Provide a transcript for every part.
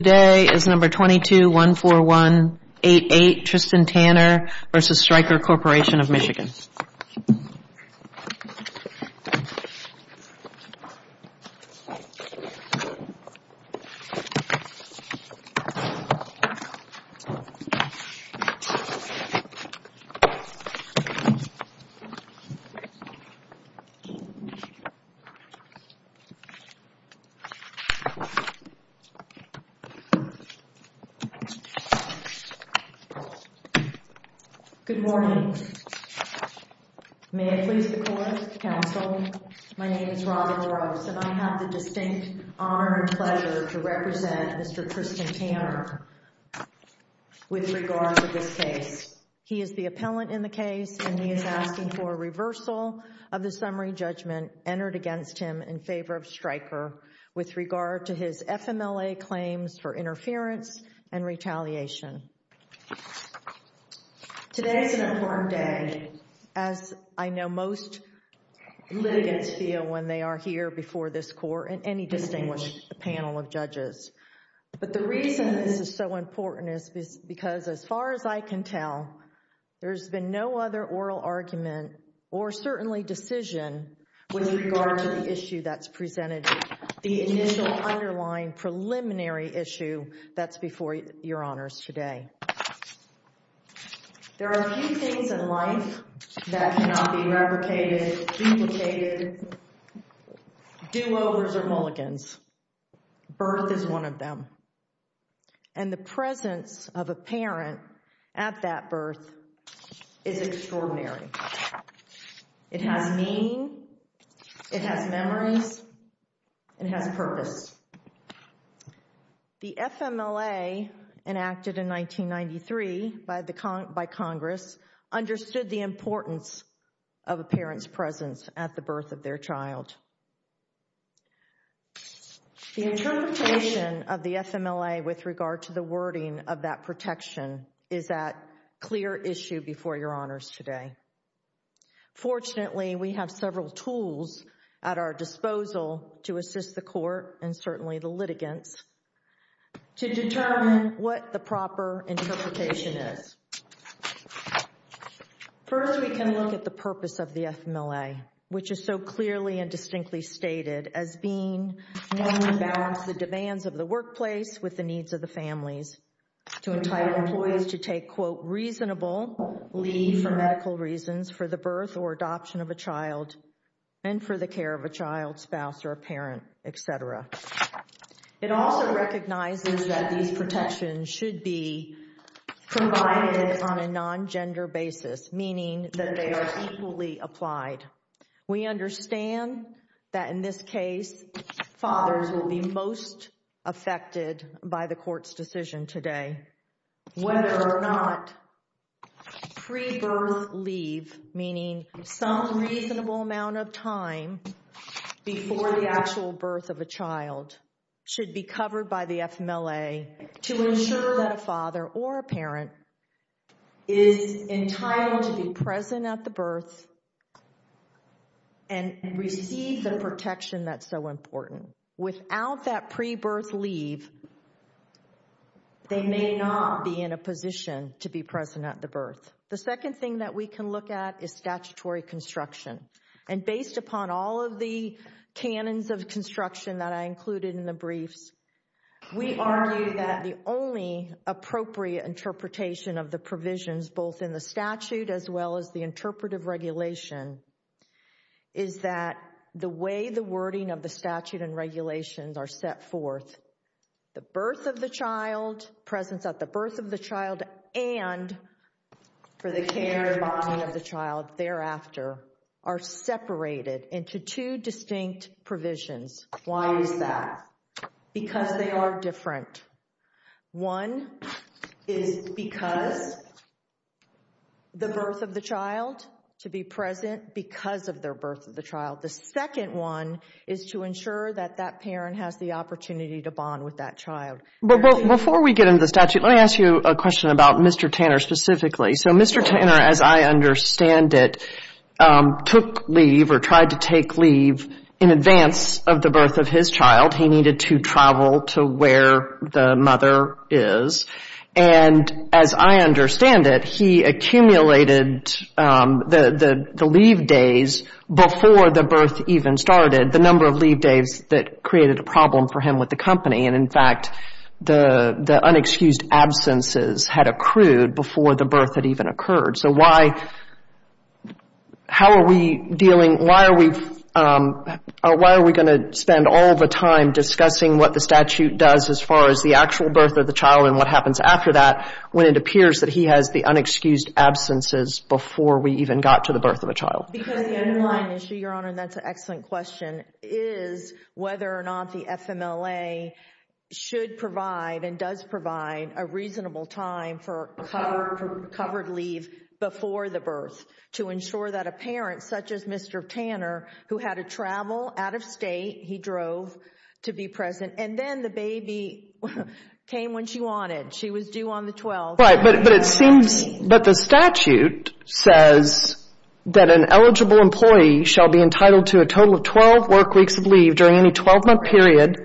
Today is number 2214188 Tristan Tanner v. Stryker Corporation of Michigan. Good morning. May it please the Court, Counsel, my name is Robin Rose and I have the distinct honor and pleasure to represent Mr. Tristan Tanner with regard to this case. He is the appellant in the case and he is asking for a reversal of the summary judgment entered against him in favor of Stryker with regard to his FMLA claims for interference and retaliation. Today is an important day as I know most litigants feel when they are here before this Court and any distinguished panel of judges. But the reason this is so important is because as far as I can tell, there's been no other oral argument or certainly decision with regard to the issue that's presented, the initial underlying preliminary issue that's before your honors today. There are a few things in life that cannot be replicated, duplicated, do-overs or mulligans. Birth is one of them. And the presence of a parent at that birth is extraordinary. It has meaning, it has memories, it has purpose. The FMLA enacted in 1993 by Congress understood the importance of a parent's presence at the birth of their child. The interpretation of the FMLA with regard to the wording of that protection is that clear issue before your honors today. Fortunately, we have several tools at our disposal to assist the Court and certainly the litigants to determine what the proper interpretation is. First, we can look at the purpose of the FMLA, which is so clearly and distinctly stated as being known to balance the demands of the workplace with the needs of the families to entitle employees to take, quote, reasonable leave for medical reasons for the birth or adoption of a child and for the care of a child, spouse or a parent, etc. It also recognizes that these protections should be provided on a non-gender basis, meaning that they are equally applied. We understand that in this case, fathers will be most affected by the Court's decision today. Whether or not pre-birth leave, meaning some reasonable amount of time before the actual birth of a child, should be covered by the FMLA to ensure that a father or a parent is entitled to be present at the birth and receive the protection that's so important. Without that pre-birth leave, they may not be in a position to be present at the birth. The second thing that we can look at is statutory construction. And based upon all of the canons of construction that I included in the briefs, we argue that the only appropriate interpretation of the provisions, both in the statute as well as the interpretive regulation, is that the way the wording of the statute and regulations are set forth, the birth of the child, presence at the birth of the child, and for the care and bonding of the child thereafter, are separated into two distinct provisions. Why is that? Because they are different. One is because the birth of the child, to be present because of their birth of the child. The second one is to ensure that that parent has the opportunity to bond with that child. Before we get into the statute, let me ask you a question about Mr. Tanner specifically. So Mr. Tanner, as I understand it, took leave or tried to take leave in advance of the birth of his child. He needed to travel to where the mother is. And as I understand it, he accumulated the leave days before the birth even started, the number of leave days that created a problem for him with the company. And in fact, the unexcused absences had accrued before the birth had even occurred. So why are we going to spend all of our time discussing what the statute does as far as the actual birth of the child and what happens after that when it appears that he has the unexcused absences before we even got to the birth of a child? Because the underlying issue, Your Honor, and that's an excellent question, is whether or not the FMLA should provide and does provide a reasonable time for covered leave before the birth to ensure that a parent, such as Mr. Tanner, who had to travel out of state, he drove to be present. And then the baby came when she wanted. She was due on the 12th. But the statute says that an eligible employee shall be entitled to a total of 12 work weeks of leave during any 12-month period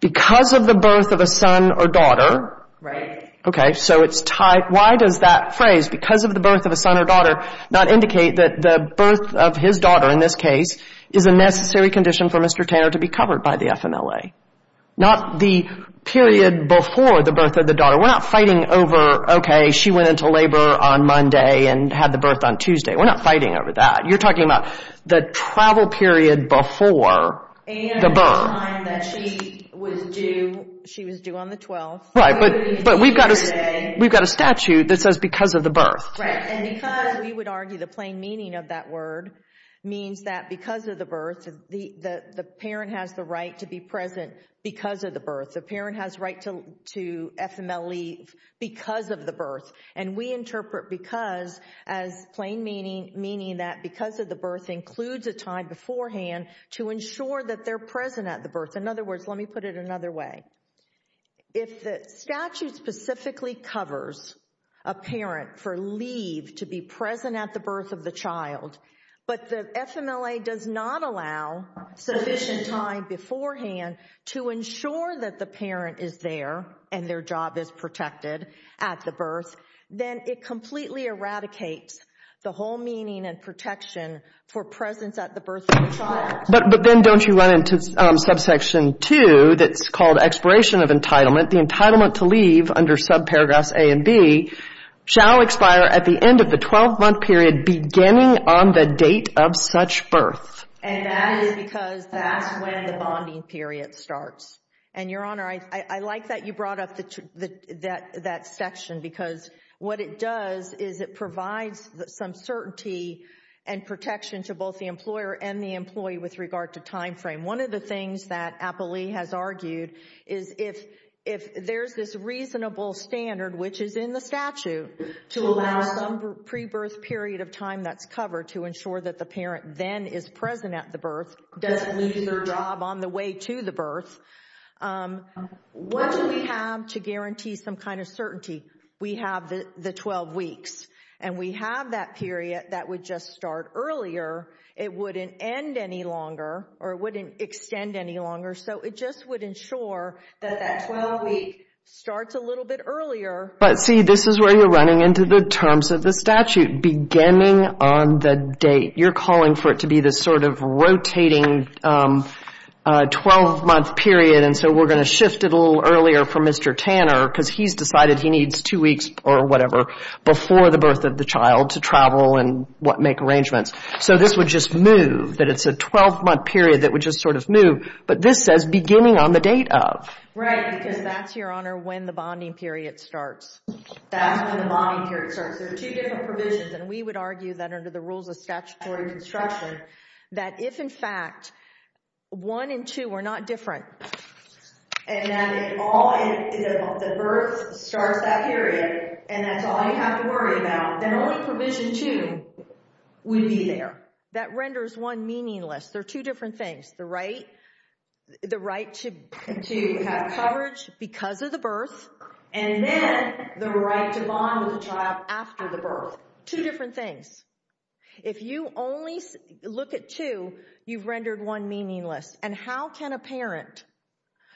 because of the birth of a son or daughter. Right. Okay. So why does that phrase, because of the birth of a son or daughter, not indicate that the birth of his daughter in this case is a necessary condition for Mr. Tanner to be covered by the FMLA? We're not fighting over, okay, she went into labor on Monday and had the birth on Tuesday. We're not fighting over that. You're talking about the travel period before the birth. And the time that she was due on the 12th. Right. But we've got a statute that says because of the birth. Right. We would argue the plain meaning of that word means that because of the birth, the parent has the right to be present because of the birth. The parent has right to FMLA leave because of the birth. And we interpret because as plain meaning that because of the birth includes a time beforehand to ensure that they're present at the birth. In other words, let me put it another way. If the statute specifically covers a parent for leave to be present at the birth of the child, but the FMLA does not allow sufficient time beforehand to ensure that the parent is there and their job is protected at the birth, then it completely eradicates the whole meaning and protection for presence at the birth of the child. But then don't you run into subsection 2 that's called expiration of entitlement. The entitlement to leave under subparagraphs A and B shall expire at the end of the 12-month period beginning on the date of such birth. And that is because that's when the bonding period starts. And, Your Honor, I like that you brought up that section because what it does is it provides some certainty and protection to both the employer and the employee with regard to time frame. One of the things that Applee has argued is if there's this reasonable standard, which is in the statute to allow some pre-birth period of time that's covered to ensure that the parent then is present at the birth, doesn't leave their job on the way to the birth, what do we have to guarantee some kind of certainty? We have the 12 weeks, and we have that period that would just start earlier. It wouldn't end any longer or it wouldn't extend any longer. So it just would ensure that that 12-week starts a little bit earlier. But, see, this is where you're running into the terms of the statute, beginning on the date. You're calling for it to be this sort of rotating 12-month period, and so we're going to shift it a little earlier for Mr. Tanner because he's decided he needs two weeks or whatever before the birth of the child to travel and make arrangements. So this would just move, that it's a 12-month period that would just sort of move. But this says beginning on the date of. Right, because that's, Your Honor, when the bonding period starts. That's when the bonding period starts. There are two different provisions, and we would argue that under the rules of statutory construction, that if, in fact, 1 and 2 were not different, and that the birth starts that period, and that's all you have to worry about, then only provision 2 would be there. That renders 1 meaningless. There are two different things, the right to have coverage because of the birth, and then the right to bond with the child after the birth. Two different things. If you only look at two, you've rendered 1 meaningless. And how can a parent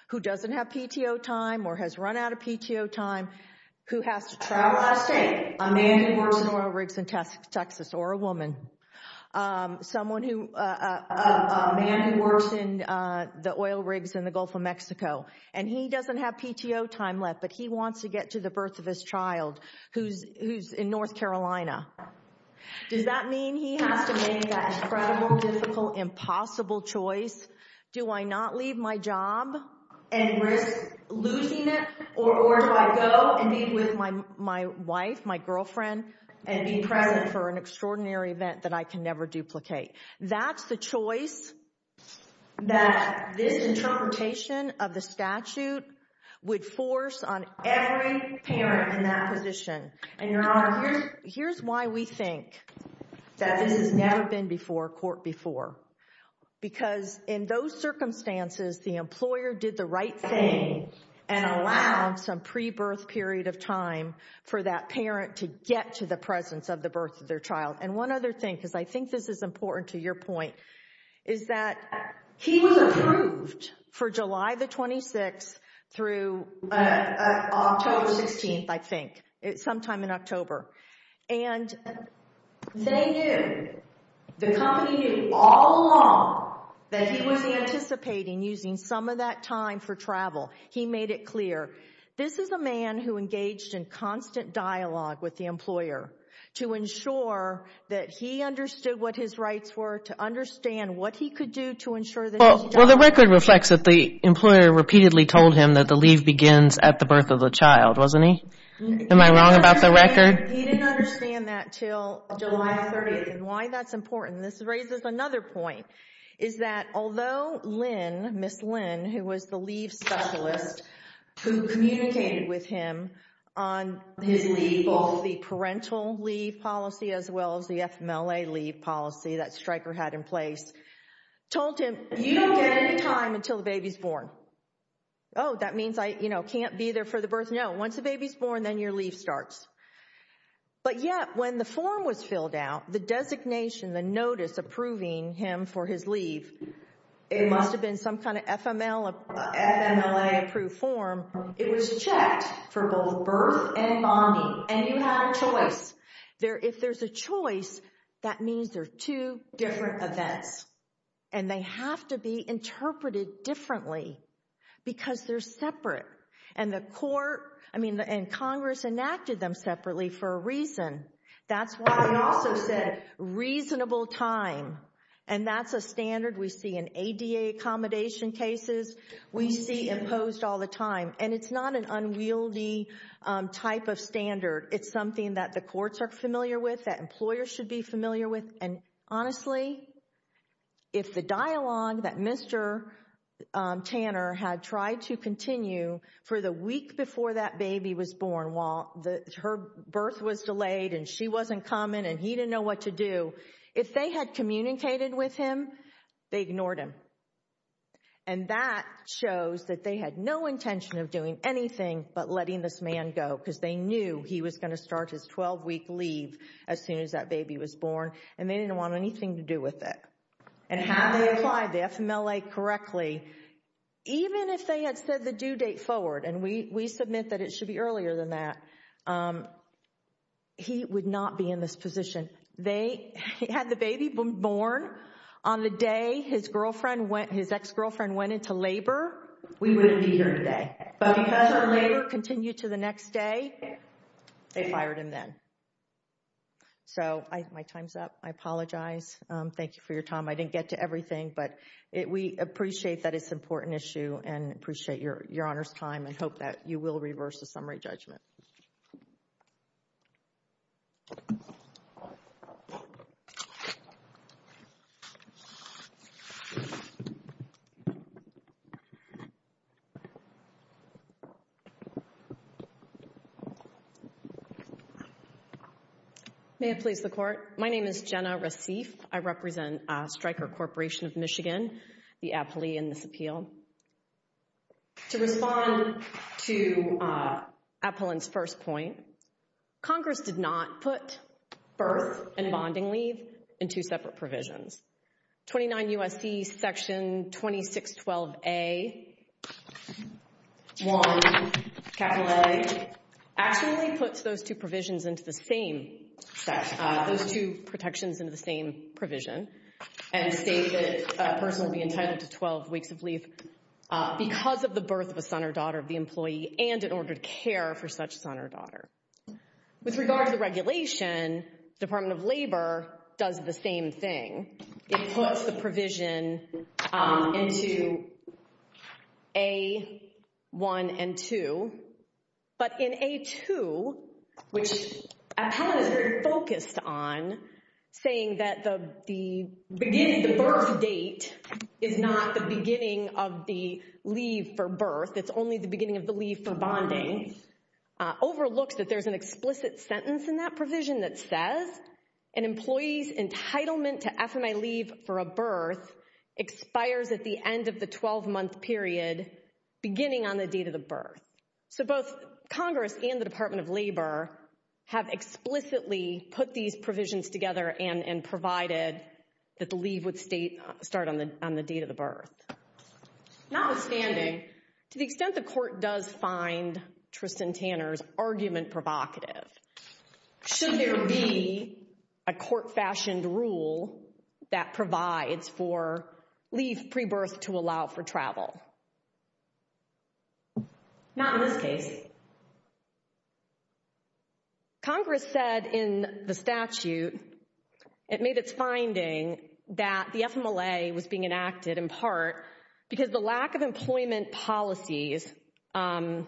who doesn't have PTO time or has run out of PTO time, who has to travel out of state, a man who works in oil rigs in Texas or a woman, a man who works in the oil rigs in the Gulf of Mexico, and he doesn't have PTO time left, but he wants to get to the birth of his child who's in North Carolina, does that mean he has to make that incredible, difficult, impossible choice? Do I not leave my job and risk losing it, or do I go and meet with my wife, my girlfriend, and be present for an extraordinary event that I can never duplicate? That's the choice that this interpretation of the statute would force on every parent in that position. And, Your Honor, here's why we think that this has never been before court before. Because in those circumstances, the employer did the right thing and allowed some pre-birth period of time for that parent to get to the presence of the birth of their child. And one other thing, because I think this is important to your point, is that he was approved for July the 26th through October 16th, I think, sometime in October. And they knew, the company knew all along that he was anticipating using some of that time for travel. He made it clear. This is a man who engaged in constant dialogue with the employer to ensure that he understood what his rights were, to understand what he could do to ensure that he got it. Well, the record reflects that the employer repeatedly told him that the leave begins at the birth of the child, wasn't he? Am I wrong about the record? He didn't understand that until July 30th. And why that's important, and this raises another point, is that although Lynn, Ms. Lynn, who was the leave specialist who communicated with him on his leave, both the parental leave policy as well as the FMLA leave policy that Stryker had in place, told him, you don't get any time until the baby's born. Oh, that means I can't be there for the birth? No, once the baby's born, then your leave starts. But yet, when the form was filled out, the designation, the notice approving him for his leave, it must have been some kind of FMLA-approved form. It was checked for both birth and bonding, and you had a choice. If there's a choice, that means there are two different events, and they have to be interpreted differently because they're separate. And the court, I mean, and Congress enacted them separately for a reason. That's why I also said reasonable time, and that's a standard we see in ADA accommodation cases. We see imposed all the time, and it's not an unwieldy type of standard. It's something that the courts are familiar with, that employers should be familiar with, and honestly, if the dialogue that Mr. Tanner had tried to continue for the week before that baby was born, while her birth was delayed and she wasn't coming and he didn't know what to do, if they had communicated with him, they ignored him. And that shows that they had no intention of doing anything but letting this man go because they knew he was going to start his 12-week leave as soon as that baby was born, and they didn't want anything to do with it. And had they applied the FMLA correctly, even if they had said the due date forward, and we submit that it should be earlier than that, he would not be in this position. They had the baby born on the day his ex-girlfriend went into labor. We wouldn't be here today. But because our labor continued to the next day, they fired him then. So my time's up. I apologize. Thank you for your time. I didn't get to everything, but we appreciate that it's an important issue and appreciate Your Honor's time and hope that you will reverse the summary judgment. May it please the Court. My name is Jenna Recife. I represent Stryker Corporation of Michigan, the appellee in this appeal. To respond to Appolin's first point, Congress did not put birth and bonding leave in two separate provisions. 29 U.S.C. Section 2612A.1, capital A, actually puts those two provisions into the same section, those two protections into the same provision, and states that a person will be entitled to 12 weeks of leave because of the birth of a son or daughter of the employee and in order to care for such son or daughter. With regard to the regulation, Department of Labor does the same thing. It puts the provision into A.1 and 2, but in A.2, which Appellant is very focused on, saying that the birth date is not the beginning of the leave for birth, it's only the beginning of the leave for bonding, overlooks that there's an explicit sentence in that provision that says, an employee's entitlement to FMI leave for a birth expires at the end of the 12-month period beginning on the date of the birth. So both Congress and the Department of Labor have explicitly put these provisions together and provided that the leave would start on the date of the birth. Notwithstanding, to the extent the court does find Tristan Tanner's argument provocative, should there be a court-fashioned rule that provides for leave pre-birth to allow for travel? Not in this case. Congress said in the statute, it made its finding that the FMLA was being enacted in part because the lack of employment policies for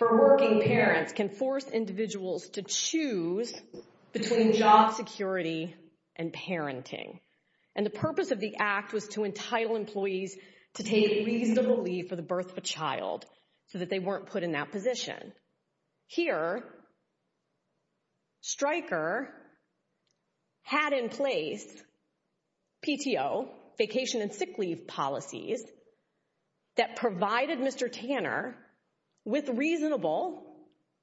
working parents can force individuals to choose between job security and parenting. And the purpose of the act was to entitle employees to take reasonable leave for the birth of a child, so that they weren't put in that position. Here, Stryker had in place PTO, vacation and sick leave policies, that provided Mr. Tanner with reasonable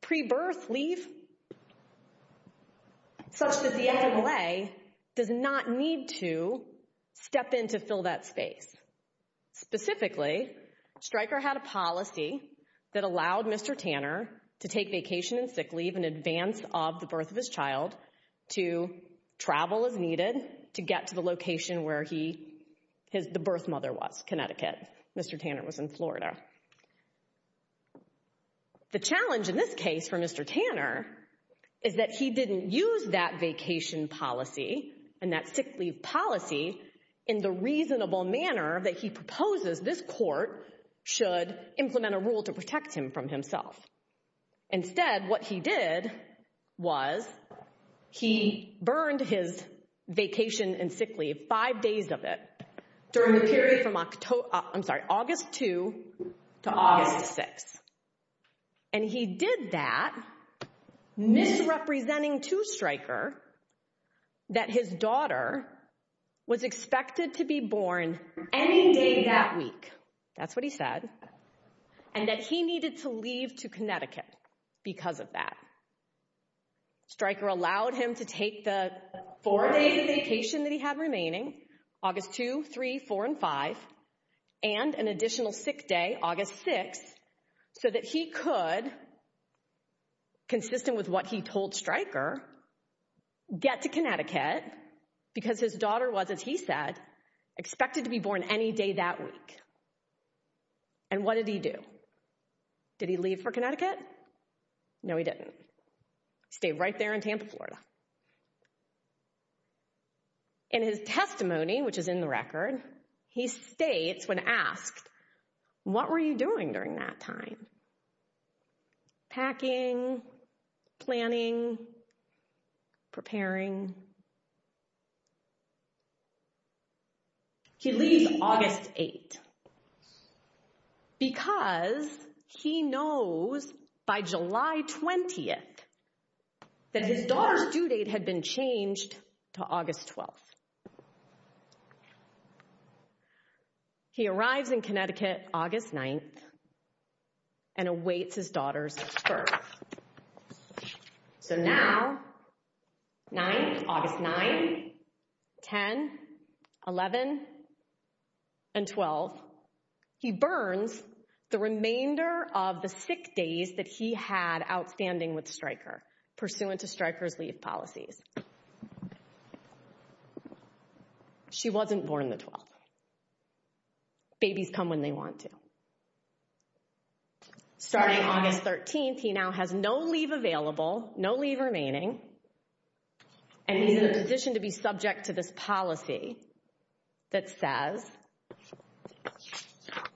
pre-birth leave, such that the FMLA does not need to step in to fill that space. Specifically, Stryker had a policy that allowed Mr. Tanner to take vacation and sick leave in advance of the birth of his child to travel as needed to get to the location where the birth mother was, Connecticut. Mr. Tanner was in Florida. The challenge in this case for Mr. Tanner is that he didn't use that vacation policy and that sick leave policy in the reasonable manner that he proposes this court should implement a rule to protect him from himself. Instead, what he did was he burned his vacation and sick leave, five days of it, during the period from August 2 to August 6. And he did that, misrepresenting to Stryker that his daughter was expected to be born any day that week. That's what he said. And that he needed to leave to Connecticut because of that. Stryker allowed him to take the four days of vacation that he had remaining, August 2, 3, 4, and 5, and an additional sick day, August 6, so that he could, consistent with what he told Stryker, get to Connecticut because his daughter was, as he said, expected to be born any day that week. And what did he do? Did he leave for Connecticut? No, he didn't. He stayed right there in Tampa, Florida. In his testimony, which is in the record, he states, when asked, what were you doing during that time? He leaves August 8, because he knows by July 20 that his daughter's due date had been changed to August 12. He arrives in Connecticut August 9, and awaits his daughter's birth. So now, 9, August 9, 10, 11, and 12, he burns the remainder of the sick days that he had outstanding with Stryker, pursuant to Stryker's leave policies. She wasn't born the 12th. Babies come when they want to. Starting August 13, he now has no leave available, no leave remaining, and he's in a position to be subject to this policy that says,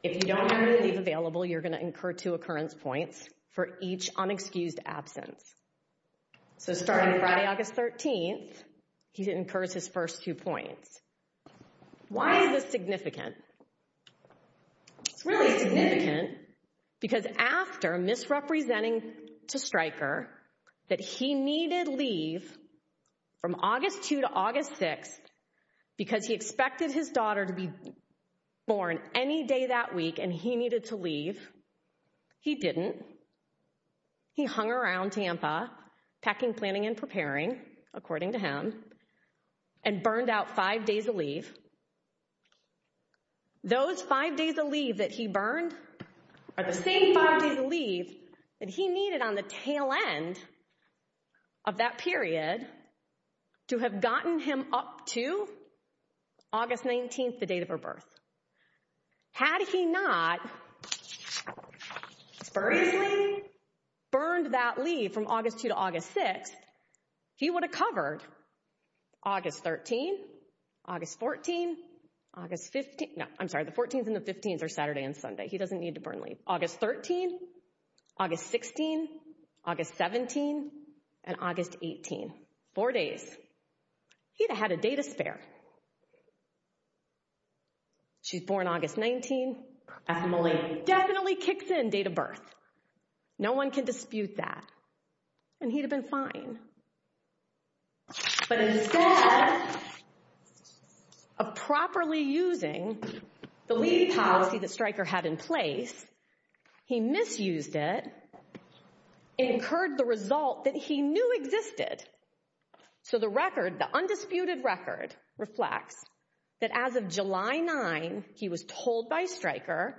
if you don't have any leave available, you're going to incur two occurrence points for each unexcused absence. So starting Friday, August 13, he incurs his first two points. Why is this significant? It's really significant because after misrepresenting to Stryker that he needed leave from August 2 to August 6, because he expected his daughter to be born any day that week and he needed to leave, he didn't. He hung around Tampa, packing, planning, and preparing, according to him, those five days of leave that he burned are the same five days of leave that he needed on the tail end of that period to have gotten him up to August 19, the date of her birth. Had he not spuriously burned that leave from August 2 to August 6, he would have covered August 13, August 14, August 15. No, I'm sorry, the 14th and the 15th are Saturday and Sunday. He doesn't need to burn leave. August 13, August 16, August 17, and August 18. Four days. He'd have had a day to spare. She's born August 19. Definitely kicks in date of birth. No one can dispute that. And he'd have been fine. But instead of properly using the leave policy that Stryker had in place, he misused it and incurred the result that he knew existed. So the record, the undisputed record, reflects that as of July 9, he was told by Stryker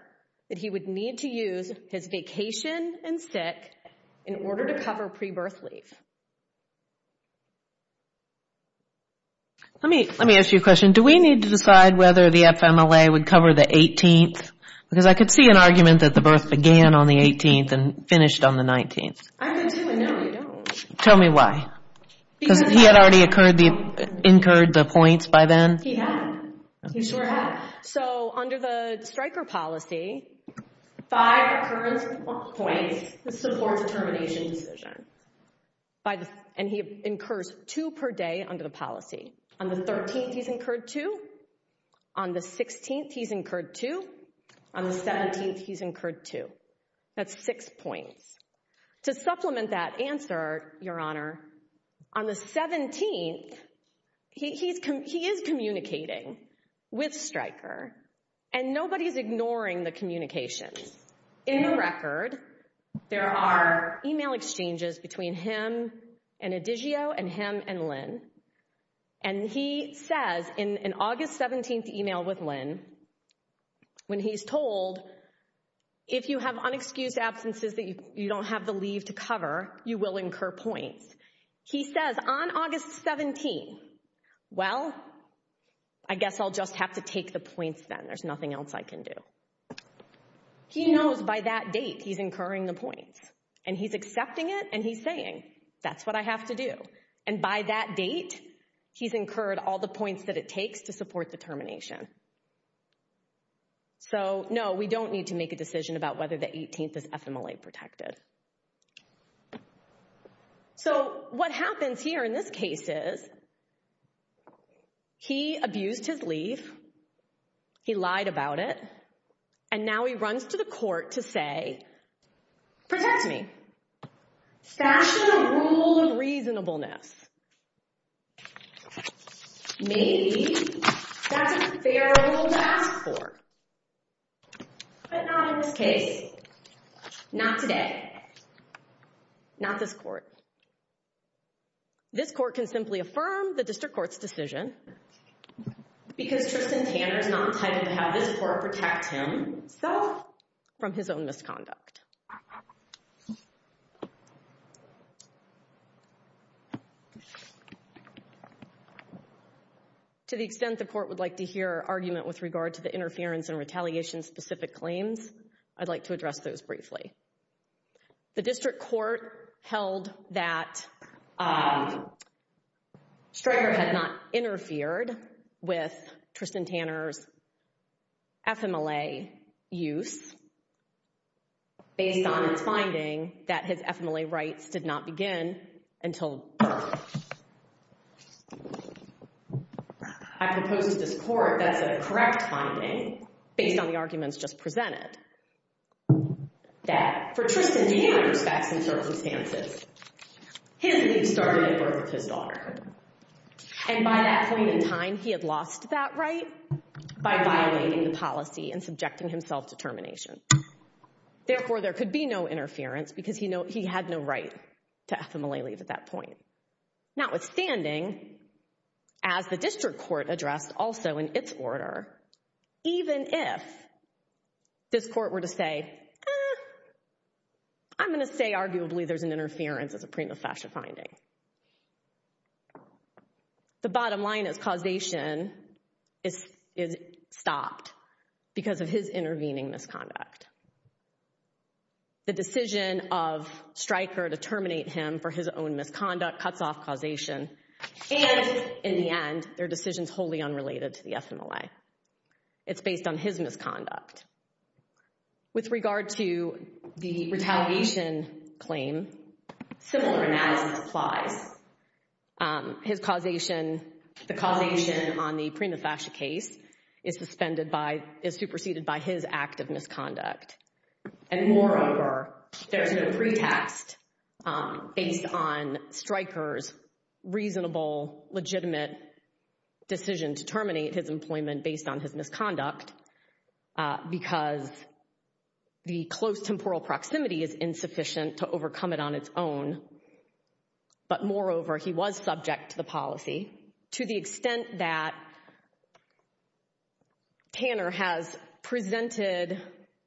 that he would need to use his vacation and sick in order to cover pre-birth leave. Let me ask you a question. Do we need to decide whether the FMLA would cover the 18th? Because I could see an argument that the birth began on the 18th and finished on the 19th. I could too, and no, we don't. Tell me why. Because he had already incurred the points by then? He had. He sure had. So under the Stryker policy, five occurrence points, this supports termination decision. And he incurs two per day under the policy. On the 13th, he's incurred two. On the 16th, he's incurred two. On the 17th, he's incurred two. That's six points. To supplement that answer, Your Honor, on the 17th, he is communicating with Stryker, and nobody is ignoring the communications. In the record, there are email exchanges between him and Adigeo and him and Lynn, and he says in an August 17th email with Lynn when he's told, if you have unexcused absences that you don't have the leave to cover, you will incur points. He says on August 17th, well, I guess I'll just have to take the points then. There's nothing else I can do. He knows by that date he's incurring the points, and he's accepting it and he's saying, that's what I have to do. And by that date, he's incurred all the points that it takes to support the termination. So, no, we don't need to make a decision about whether the 18th is FMLA protected. So what happens here in this case is he abused his leave, he lied about it, and now he runs to the court to say, protect me. That's the rule of reasonableness. Maybe that's a fair rule to ask for, but not in this case, not today, not this court. This court can simply affirm the district court's decision because Tristan Tanner is not entitled to have this court protect him from his own misconduct. To the extent the court would like to hear argument with regard to the interference and retaliation-specific claims, I'd like to address those briefly. The district court held that Stryker had not interfered with Tristan Tanner's FMLA use. Based on its finding that his FMLA rights did not begin until birth. I propose to this court that's a correct finding, based on the arguments just presented, that for Tristan Tanner's facts and circumstances, his leave started at birth with his daughter. And by that point in time, he had lost that right by violating the policy and subjecting himself to termination. Therefore, there could be no interference because he had no right to FMLA leave at that point. Notwithstanding, as the district court addressed also in its order, even if this court were to say, I'm going to say arguably there's an interference as a prima facie finding. The bottom line is causation is stopped because of his intervening misconduct. The decision of Stryker to terminate him for his own misconduct cuts off causation. And in the end, their decision is wholly unrelated to the FMLA. It's based on his misconduct. With regard to the retaliation claim, similar analysis applies. His causation, the causation on the prima facie case is suspended by, is superseded by his act of misconduct. And moreover, there's no pretext based on Stryker's reasonable, legitimate decision to terminate his employment based on his misconduct because the close temporal proximity is insufficient to overcome it on its own. But moreover, he was subject to the policy. To the extent that Tanner has presented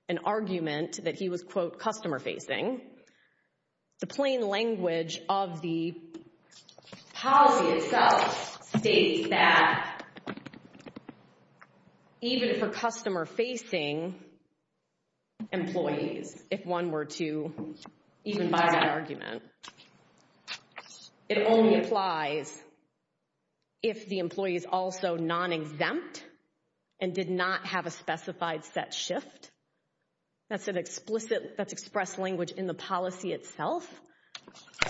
an argument that he was, quote, customer facing, the plain language of the policy itself states that even for customer facing employees, if one were to even buy that argument, it only applies if the employee is also non-exempt and did not have a specified set shift. That's an explicit, that's expressed language in the policy itself.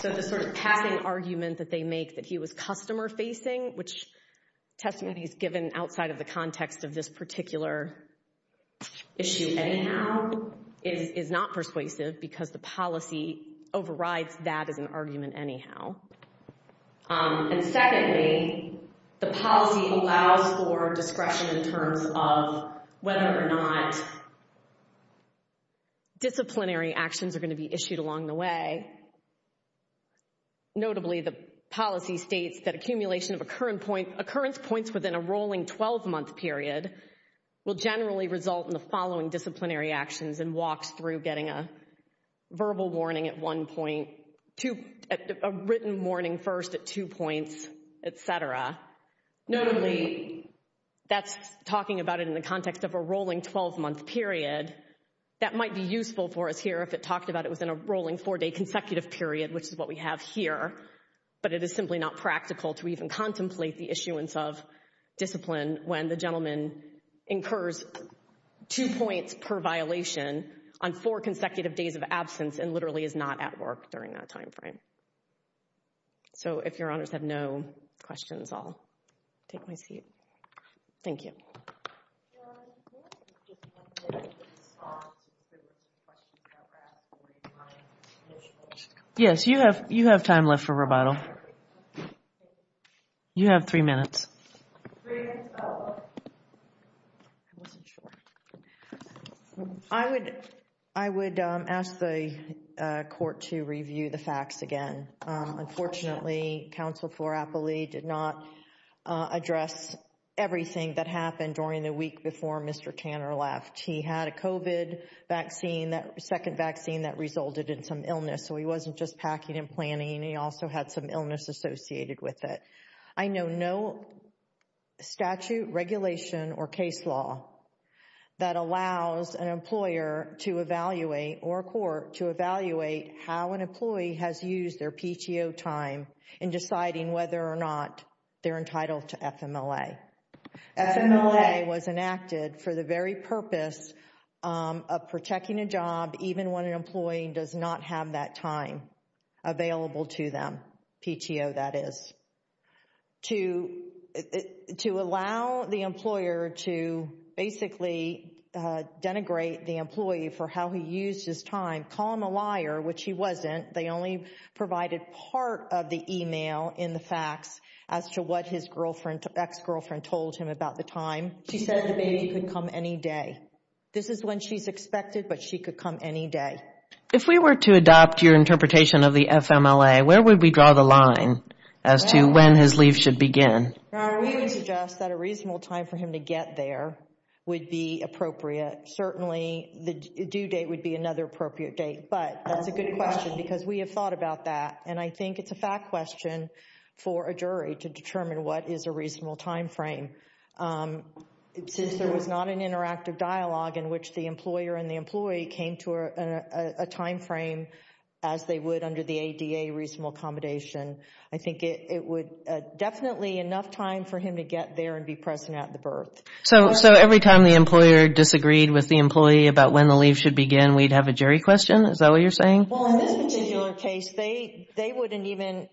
So the sort of passing argument that they make that he was customer facing, which testimony is given outside of the context of this particular issue anyhow, is not persuasive because the policy overrides that as an argument anyhow. And secondly, the policy allows for discretion in terms of whether or not disciplinary actions are going to be issued along the way. Notably, the policy states that accumulation of occurrence points within a rolling 12-month period will generally result in the following disciplinary actions and walks through getting a verbal warning at one point, a written warning first at two points, et cetera. Notably, that's talking about it in the context of a rolling 12-month period. That might be useful for us here if it talked about it was in a rolling four-day consecutive period, which is what we have here, but it is simply not practical to even contemplate the issuance of discipline when the gentleman incurs two points per violation on four consecutive days of absence and literally is not at work during that time frame. So if your honors have no questions, I'll take my seat. Thank you. Yes, you have time left for rebuttal. You have three minutes. I would ask the court to review the facts again. Unfortunately, counsel Florapoli did not address everything that happened during the week before Mr. Tanner left. He had a COVID vaccine, that second vaccine that resulted in some illness. So he wasn't just packing and planning. He also had some illness associated with it. I know no statute, regulation, or case law that allows an employer to evaluate or a court to evaluate how an employee has used their PTO time in deciding whether or not they're entitled to FMLA. FMLA was enacted for the very purpose of protecting a job, even when an employee does not have that time available to them, PTO that is. To allow the employer to basically denigrate the employee for how he used his time, call him a liar, which he wasn't. They only provided part of the email in the facts as to what his ex-girlfriend told him about the time. She said the baby could come any day. This is when she's expected, but she could come any day. If we were to adopt your interpretation of the FMLA, where would we draw the line as to when his leave should begin? We would suggest that a reasonable time for him to get there would be appropriate. Certainly, the due date would be another appropriate date. That's a good question because we have thought about that. I think it's a fact question for a jury to determine what is a reasonable time frame. Since there was not an interactive dialogue in which the employer and the employee came to a time frame as they would under the ADA reasonable accommodation, I think it would definitely be enough time for him to get there and be present at the birth. So every time the employer disagreed with the employee about when the leave should begin, we'd have a jury question? Is that what you're saying? Well, in this particular case, they wouldn't even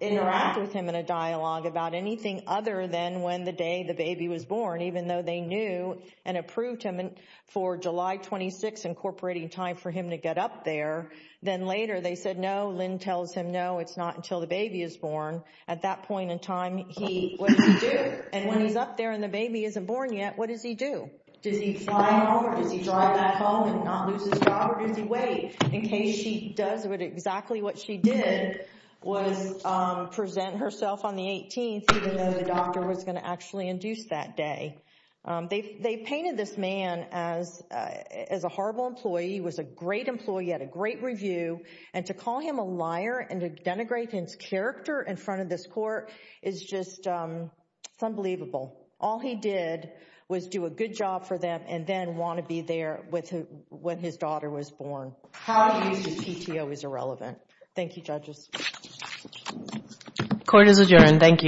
interact with him in a dialogue about anything other than when the day the baby was born, even though they knew and approved him for July 26, incorporating time for him to get up there. Then later, they said, no, Lynn tells him, no, it's not until the baby is born. At that point in time, what does he do? And when he's up there and the baby isn't born yet, what does he do? Does he fly home or does he drive back home and not lose his job? Or does he wait in case she does exactly what she did, was present herself on the 18th, even though the doctor was going to actually induce that day. They painted this man as a horrible employee. He was a great employee. He had a great review. And to call him a liar and to denigrate his character in front of this court is just unbelievable. All he did was do a good job for them and then want to be there when his daughter was born. How he used his PTO is irrelevant. Thank you, judges. Court is adjourned. Thank you.